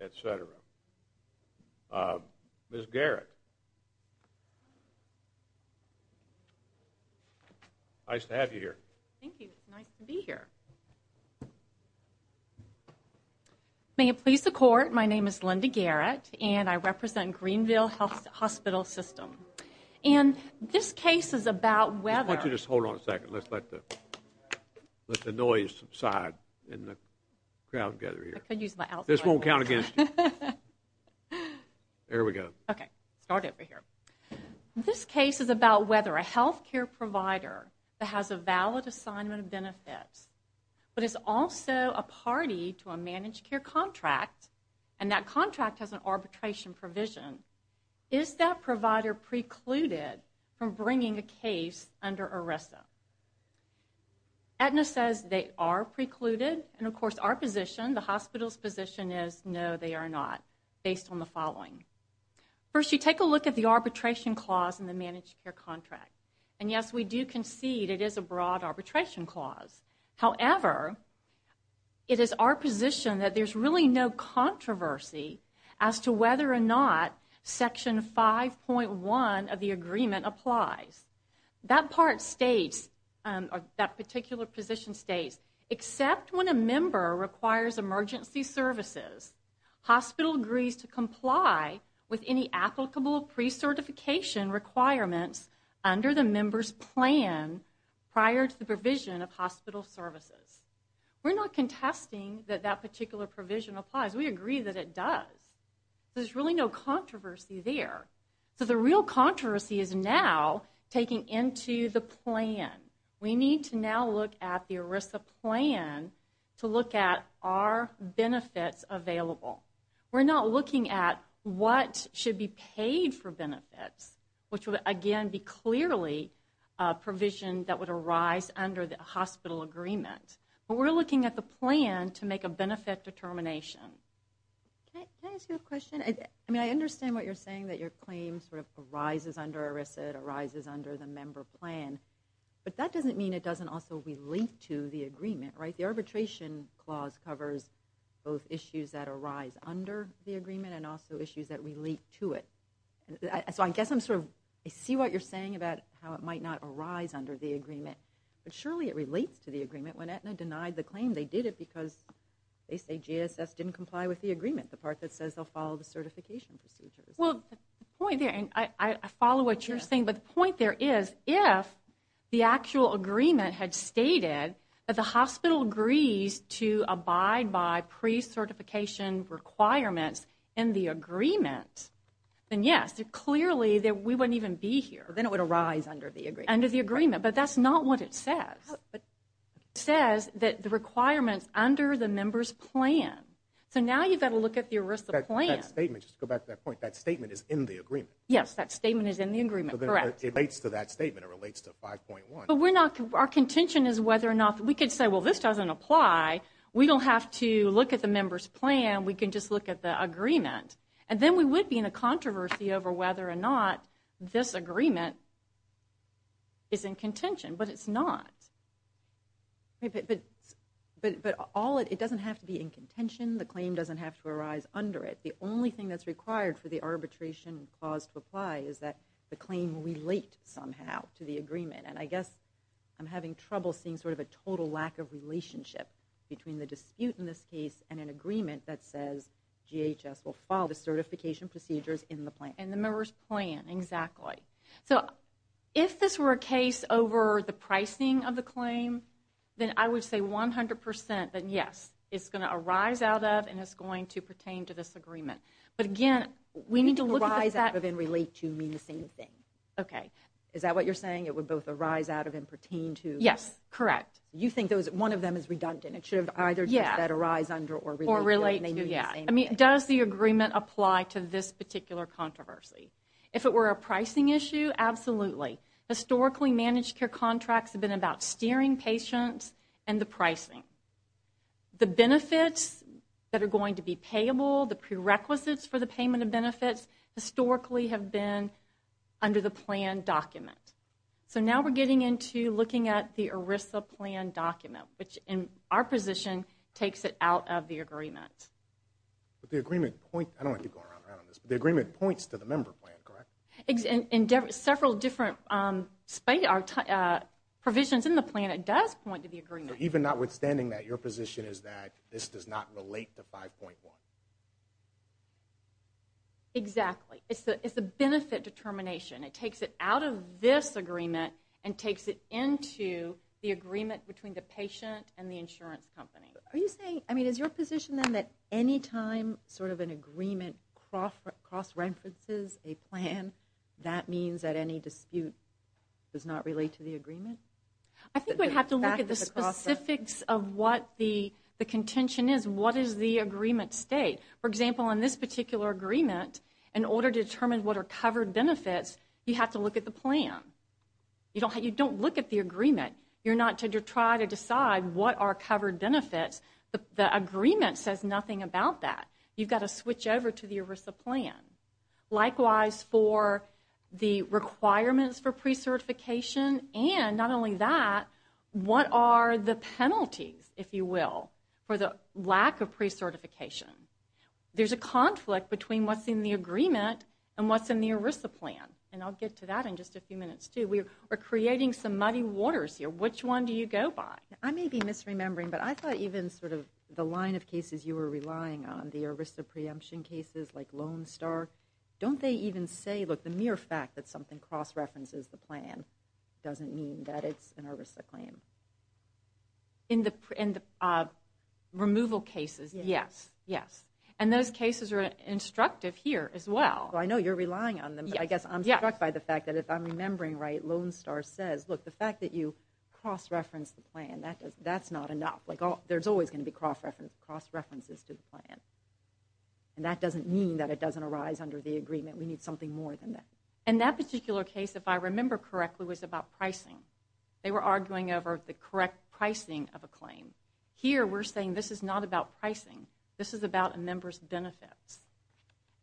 et cetera. Ms. Garrett, nice to have you here. Thank you, it's nice to be here. May it please the Court, my name is Linda Garrett and I represent Greenville Hospital System. And this case is about whether... Just hold on a second, let's let the noise subside and the crowd gather here. This won't count against you. There we go. Okay, start over here. This case is about whether a health care provider that has a valid assignment of benefits but is also a party to a managed care contract and that contract has an arbitration provision, is that provider precluded from bringing a case under ERISA? Aetna says they are precluded and of course our position, the hospital's position is no, they are not, based on the following. First, you take a look at the arbitration clause in the managed care contract. And yes, we do concede it is a broad arbitration clause. However, it is our position that there's really no controversy as to whether or not section 5.1 of the agreement applies. That part states, that particular position states, except when a member requires emergency services, hospital agrees to comply with any applicable pre-certification requirements under the member's plan prior to the provision of hospital services. We're not contesting that that particular provision applies, we agree that it does. There's really no controversy there. So the real controversy is now taking into the plan. We need to now look at the ERISA plan to look at are benefits available. We're not looking at what should be paid for benefits, which would again be clearly a provision that would arise under the hospital agreement. But we're looking at the plan to make a benefit determination. Can I ask you a question? I mean, I understand what you're saying, that your claim sort of arises under ERISA, it arises under the member plan. But that doesn't mean it doesn't also relate to the agreement, right? The arbitration clause covers both issues that arise under the agreement and also issues that relate to it. So I guess I'm sort of, I see what you're saying about how it might not arise under the agreement. But surely it relates to the agreement. When Aetna denied the claim, they did it because they say GSS didn't comply with the agreement, the part that says they'll follow the certification procedures. Well, the point there, and I follow what you're saying, but the point there is if the actual agreement had stated that the hospital agrees to abide by pre-certification requirements in the agreement, then yes, clearly we wouldn't even be here. Then it would arise under the agreement. Under the agreement. But that's not what it says. It says that the requirements under the member's plan. So now you've got to look at the ERISA plan. But that statement, just to go back to that point, that statement is in the agreement. Yes, that statement is in the agreement, correct. It relates to that statement. It relates to 5.1. But we're not, our contention is whether or not, we could say, well, this doesn't apply. We don't have to look at the member's plan. We can just look at the agreement. And then we would be in a controversy over whether or not this agreement is in contention. But it's not. But all, it doesn't have to be in contention. The claim doesn't have to arise under it. The only thing that's required for the arbitration clause to apply is that the claim relate somehow to the agreement. And I guess I'm having trouble seeing sort of a total lack of relationship between the dispute in this case and an agreement that says GHS will follow the certification procedures in the plan. And the member's plan, exactly. So if this were a case over the pricing of the claim, then I would say 100 percent that yes, it's going to arise out of and it's going to pertain to this agreement. But, again, we need to look at that. Arise out of and relate to mean the same thing. Okay. Is that what you're saying? It would both arise out of and pertain to? Yes, correct. You think one of them is redundant. It should have either just said arise under or relate to. Or relate to, yeah. I mean, does the agreement apply to this particular controversy? Historically, managed care contracts have been about steering patients and the pricing. The benefits that are going to be payable, the prerequisites for the payment of benefits, historically have been under the plan document. So now we're getting into looking at the ERISA plan document, which in our position takes it out of the agreement. But the agreement points to the member plan, correct? In several different provisions in the plan, it does point to the agreement. Even notwithstanding that, your position is that this does not relate to 5.1? Exactly. It's the benefit determination. It takes it out of this agreement and takes it into the agreement between the patient and the insurance company. Are you saying, I mean, is your position then that any time sort of an agreement cross-references a plan, I think we have to look at the specifics of what the contention is. What is the agreement state? For example, in this particular agreement, in order to determine what are covered benefits, you have to look at the plan. You don't look at the agreement. You're not to try to decide what are covered benefits. The agreement says nothing about that. You've got to switch over to the ERISA plan. Likewise, for the requirements for pre-certification, and not only that, what are the penalties, if you will, for the lack of pre-certification? There's a conflict between what's in the agreement and what's in the ERISA plan. And I'll get to that in just a few minutes, too. We are creating some muddy waters here. Which one do you go by? I may be misremembering, but I thought even sort of the line of cases you were relying on, the ERISA preemption cases like Lone Star. Don't they even say, look, the mere fact that something cross-references the plan doesn't mean that it's an ERISA claim? In the removal cases, yes. And those cases are instructive here as well. I know you're relying on them, but I guess I'm struck by the fact that if I'm remembering right, Lone Star says, look, the fact that you cross-reference the plan, that's not enough. There's always going to be cross-references to the plan. And that doesn't mean that it doesn't arise under the agreement. We need something more than that. And that particular case, if I remember correctly, was about pricing. They were arguing over the correct pricing of a claim. Here we're saying this is not about pricing. This is about a member's benefits.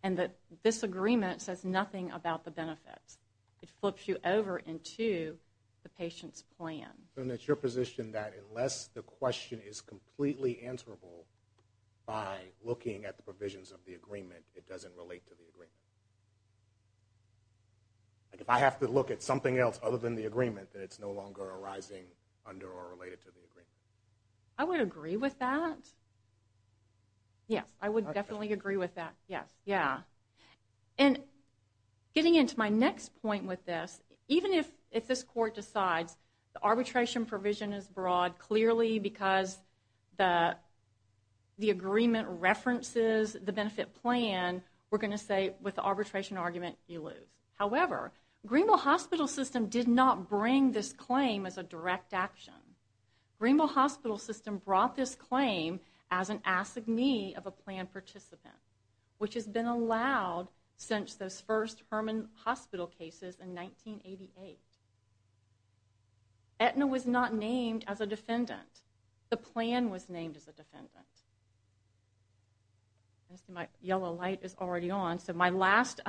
And this agreement says nothing about the benefits. It flips you over into the patient's plan. And it's your position that unless the question is completely answerable by looking at the provisions of the agreement, it doesn't relate to the agreement? Like if I have to look at something else other than the agreement, that it's no longer arising under or related to the agreement? I would agree with that. Yes, I would definitely agree with that. Yes, yeah. And getting into my next point with this, even if this court decides the arbitration provision is broad, clearly because the agreement references the benefit plan, we're going to say with the arbitration argument you lose. However, Greenville Hospital System did not bring this claim as a direct action. Greenville Hospital System brought this claim as an assignee of a plan participant, which has been allowed since those first Herman Hospital cases in 1988. Aetna was not named as a defendant. The plan was named as a defendant. My yellow light is already on. So my last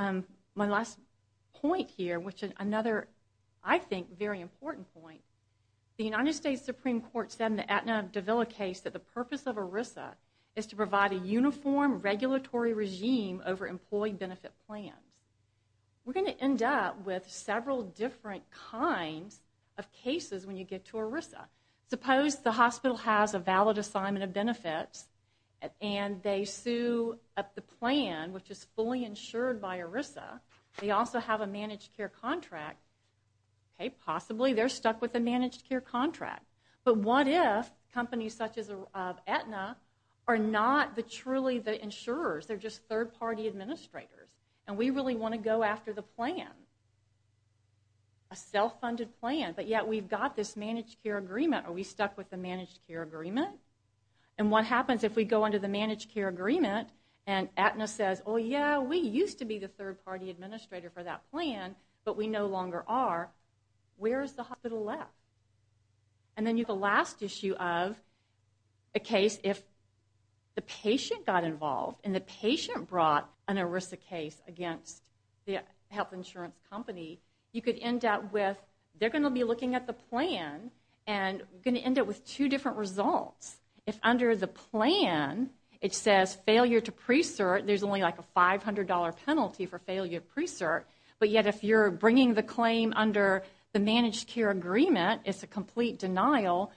point here, which is another, I think, very important point, the United States Supreme Court said in the Aetna Davila case that the purpose of ERISA is to provide a uniform regulatory regime over employee benefit plans. We're going to end up with several different kinds of cases when you get to ERISA. Suppose the hospital has a valid assignment of benefits, and they sue at the plan, which is fully insured by ERISA. They also have a managed care contract. Okay, possibly they're stuck with a managed care contract. But what if companies such as Aetna are not truly the insurers? They're just third-party administrators, and we really want to go after the plan, a self-funded plan, but yet we've got this managed care agreement. Are we stuck with the managed care agreement? And what happens if we go under the managed care agreement and Aetna says, oh, yeah, we used to be the third-party administrator for that plan, but we no longer are? Where is the hospital left? And then the last issue of a case, if the patient got involved and the patient brought an ERISA case against the health insurance company, you could end up with they're going to be looking at the plan, and you're going to end up with two different results. If under the plan it says failure to pre-cert, but yet if you're bringing the claim under the managed care agreement, it's a complete denial,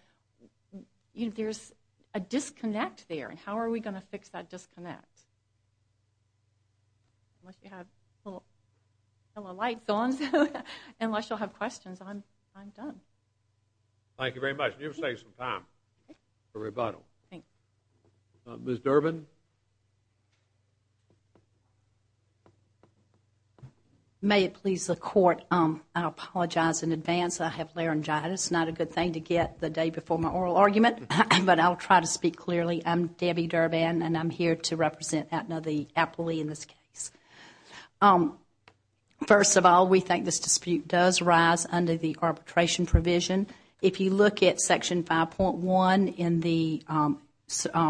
there's a disconnect there, and how are we going to fix that disconnect? Unless you have a little light going, unless you'll have questions, I'm done. Thank you very much. You've saved some time for rebuttal. Thanks. Ms. Durbin? May it please the Court, I apologize in advance. I have laryngitis, not a good thing to get the day before my oral argument, but I'll try to speak clearly. I'm Debbie Durbin, and I'm here to represent Aetna, the appellee in this case. First of all, we think this dispute does rise under the arbitration provision. If you look at Section 5.1 in the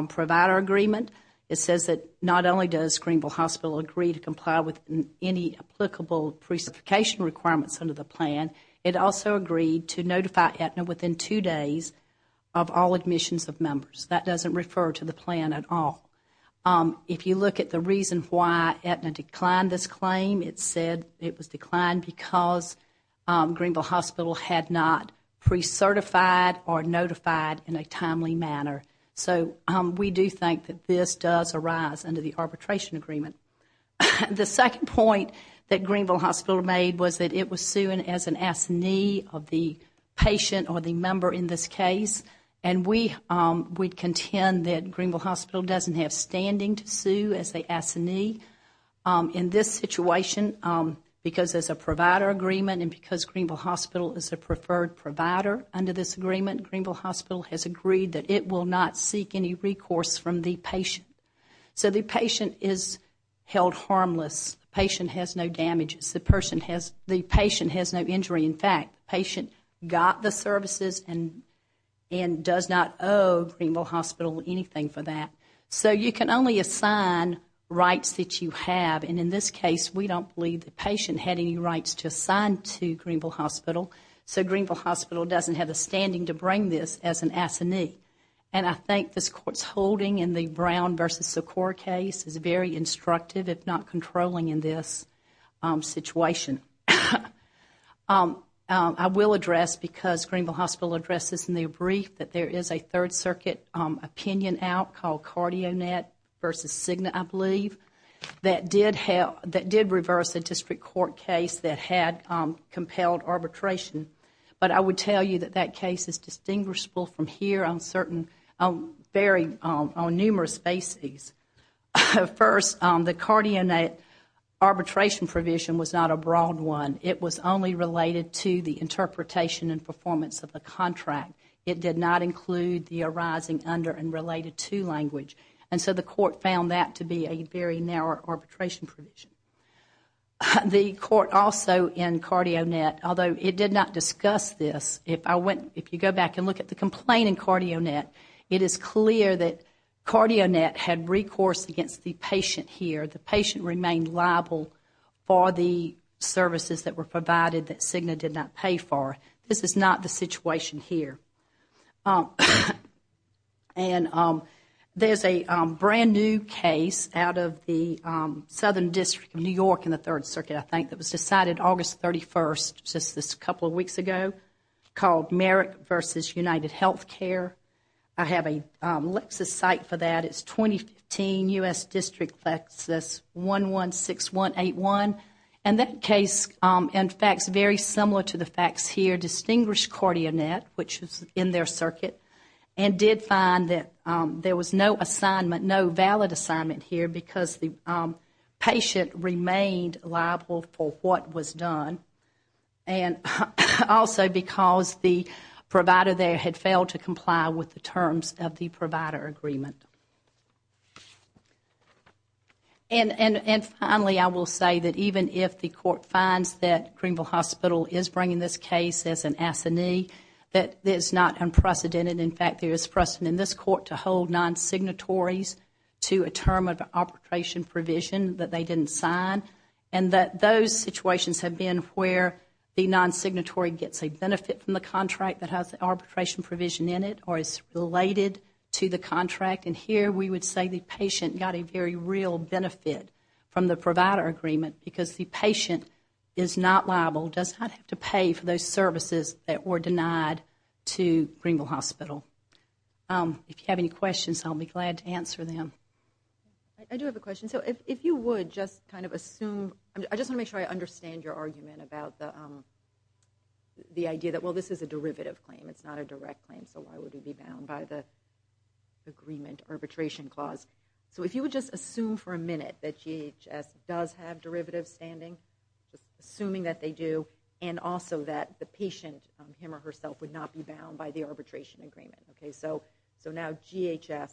provider agreement, it says that not only does Greenville Hospital agree to comply with any applicable pre-certification requirements under the plan, it also agreed to notify Aetna within two days of all admissions of members. That doesn't refer to the plan at all. If you look at the reason why Aetna declined this claim, it said it was declined because Greenville Hospital had not pre-certified or notified in a timely manner. So we do think that this does arise under the arbitration agreement. The second point that Greenville Hospital made was that it was suing as an assignee of the patient or the member in this case, and we contend that Greenville Hospital doesn't have standing to sue as an assignee. In this situation, because there's a provider agreement and because Greenville Hospital is a preferred provider under this agreement, Greenville Hospital has agreed that it will not seek any recourse from the patient. So the patient is held harmless. The patient has no damages. The patient has no injury. In fact, the patient got the services and does not owe Greenville Hospital anything for that. So you can only assign rights that you have, and in this case we don't believe the patient had any rights to assign to Greenville Hospital, so Greenville Hospital doesn't have the standing to bring this as an assignee. And I think this Court's holding in the Brown v. Socorro case is very instructive, if not controlling in this situation. I will address, because Greenville Hospital addresses in their brief, that there is a Third Circuit opinion out called Cardionet v. Cigna, I believe, that did reverse a district court case that had compelled arbitration. But I would tell you that that case is distinguishable from here on numerous bases. First, the Cardionet arbitration provision was not a broad one. It was only related to the interpretation and performance of the contract. It did not include the arising under and related to language. And so the Court found that to be a very narrow arbitration provision. The Court also in Cardionet, although it did not discuss this, if you go back and look at the complaint in Cardionet, it is clear that Cardionet had recourse against the patient here. The patient remained liable for the services that were provided that Cigna did not pay for. This is not the situation here. And there is a brand-new case out of the Southern District of New York in the Third Circuit, I think, that was decided August 31st, just a couple of weeks ago, called Merrick v. UnitedHealthcare. I have a Lexis site for that. It is 2015 U.S. District Lexis 116181. And that case, in fact, is very similar to the facts here. Distinguished Cardionet, which is in their circuit, did find that there was no valid assignment here because the patient remained liable for what was done. And also because the provider there had failed to comply with the terms of the provider agreement. And finally, I will say that even if the Court finds that Greenville Hospital is bringing this case as an assignee, that it is not unprecedented. In fact, there is precedent in this Court to hold non-signatories to a term of arbitration provision that they didn't sign, and that those situations have been where the non-signatory gets a benefit from the contract that has the arbitration provision in it or is related to the contract and here we would say the patient got a very real benefit from the provider agreement because the patient is not liable, does not have to pay for those services that were denied to Greenville Hospital. If you have any questions, I'll be glad to answer them. I do have a question. So if you would just kind of assume, I just want to make sure I understand your argument about the idea that, well, this is a derivative claim, it's not a direct claim, so why would it be bound by the agreement arbitration clause? So if you would just assume for a minute that GHS does have derivative standing, just assuming that they do, and also that the patient, him or herself, would not be bound by the arbitration agreement. So now GHS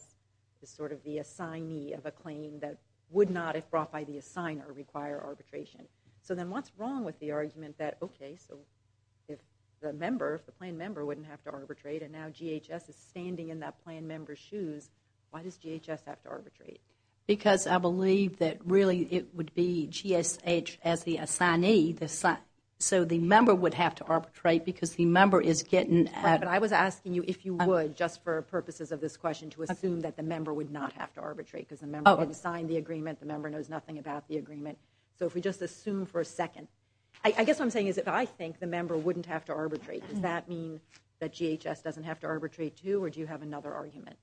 is sort of the assignee of a claim that would not, if brought by the assigner, require arbitration. So then what's wrong with the argument that, okay, so if the member, the member wouldn't have to arbitrate and now GHS is standing in that plan member's shoes, why does GHS have to arbitrate? Because I believe that really it would be GSH as the assignee, so the member would have to arbitrate because the member is getting. But I was asking you if you would, just for purposes of this question, to assume that the member would not have to arbitrate because the member has signed the agreement, the member knows nothing about the agreement. So if we just assume for a second. I guess what I'm saying is if I think the member wouldn't have to arbitrate, does that mean that GHS doesn't have to arbitrate too, or do you have another argument?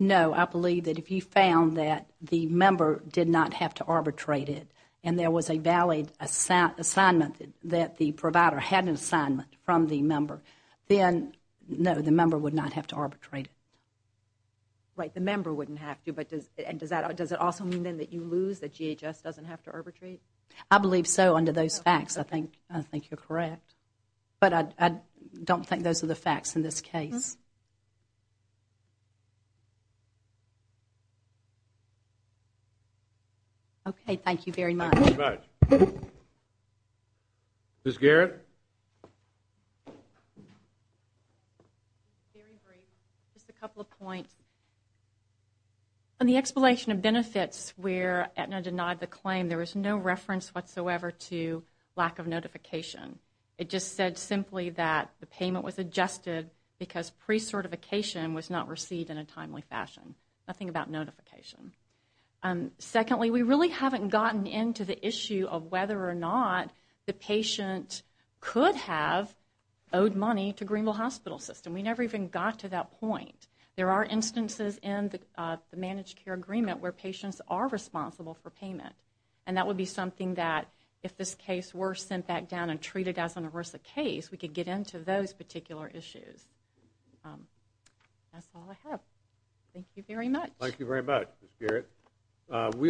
No, I believe that if you found that the member did not have to arbitrate it and there was a valid assignment that the provider had an assignment from the member, then no, the member would not have to arbitrate it. Right, the member wouldn't have to. But does it also mean then that you lose, that GHS doesn't have to arbitrate? I believe so under those facts. I think you're correct. But I don't think those are the facts in this case. Okay, thank you very much. Thank you very much. Ms. Garrett? Just a couple of points. On the explanation of benefits where Aetna denied the claim, there was no reference whatsoever to lack of notification. It just said simply that the payment was adjusted because pre-certification was not received in a timely fashion. Nothing about notification. Secondly, we really haven't gotten into the issue of whether or not the patient could have owed money to Greenville Hospital System. We never even got to that point. There are instances in the managed care agreement where patients are responsible for payment, and that would be something that if this case were sent back down and treated as an ERISA case, we could get into those particular issues. That's all I have. Thank you very much. Thank you very much, Ms. Garrett.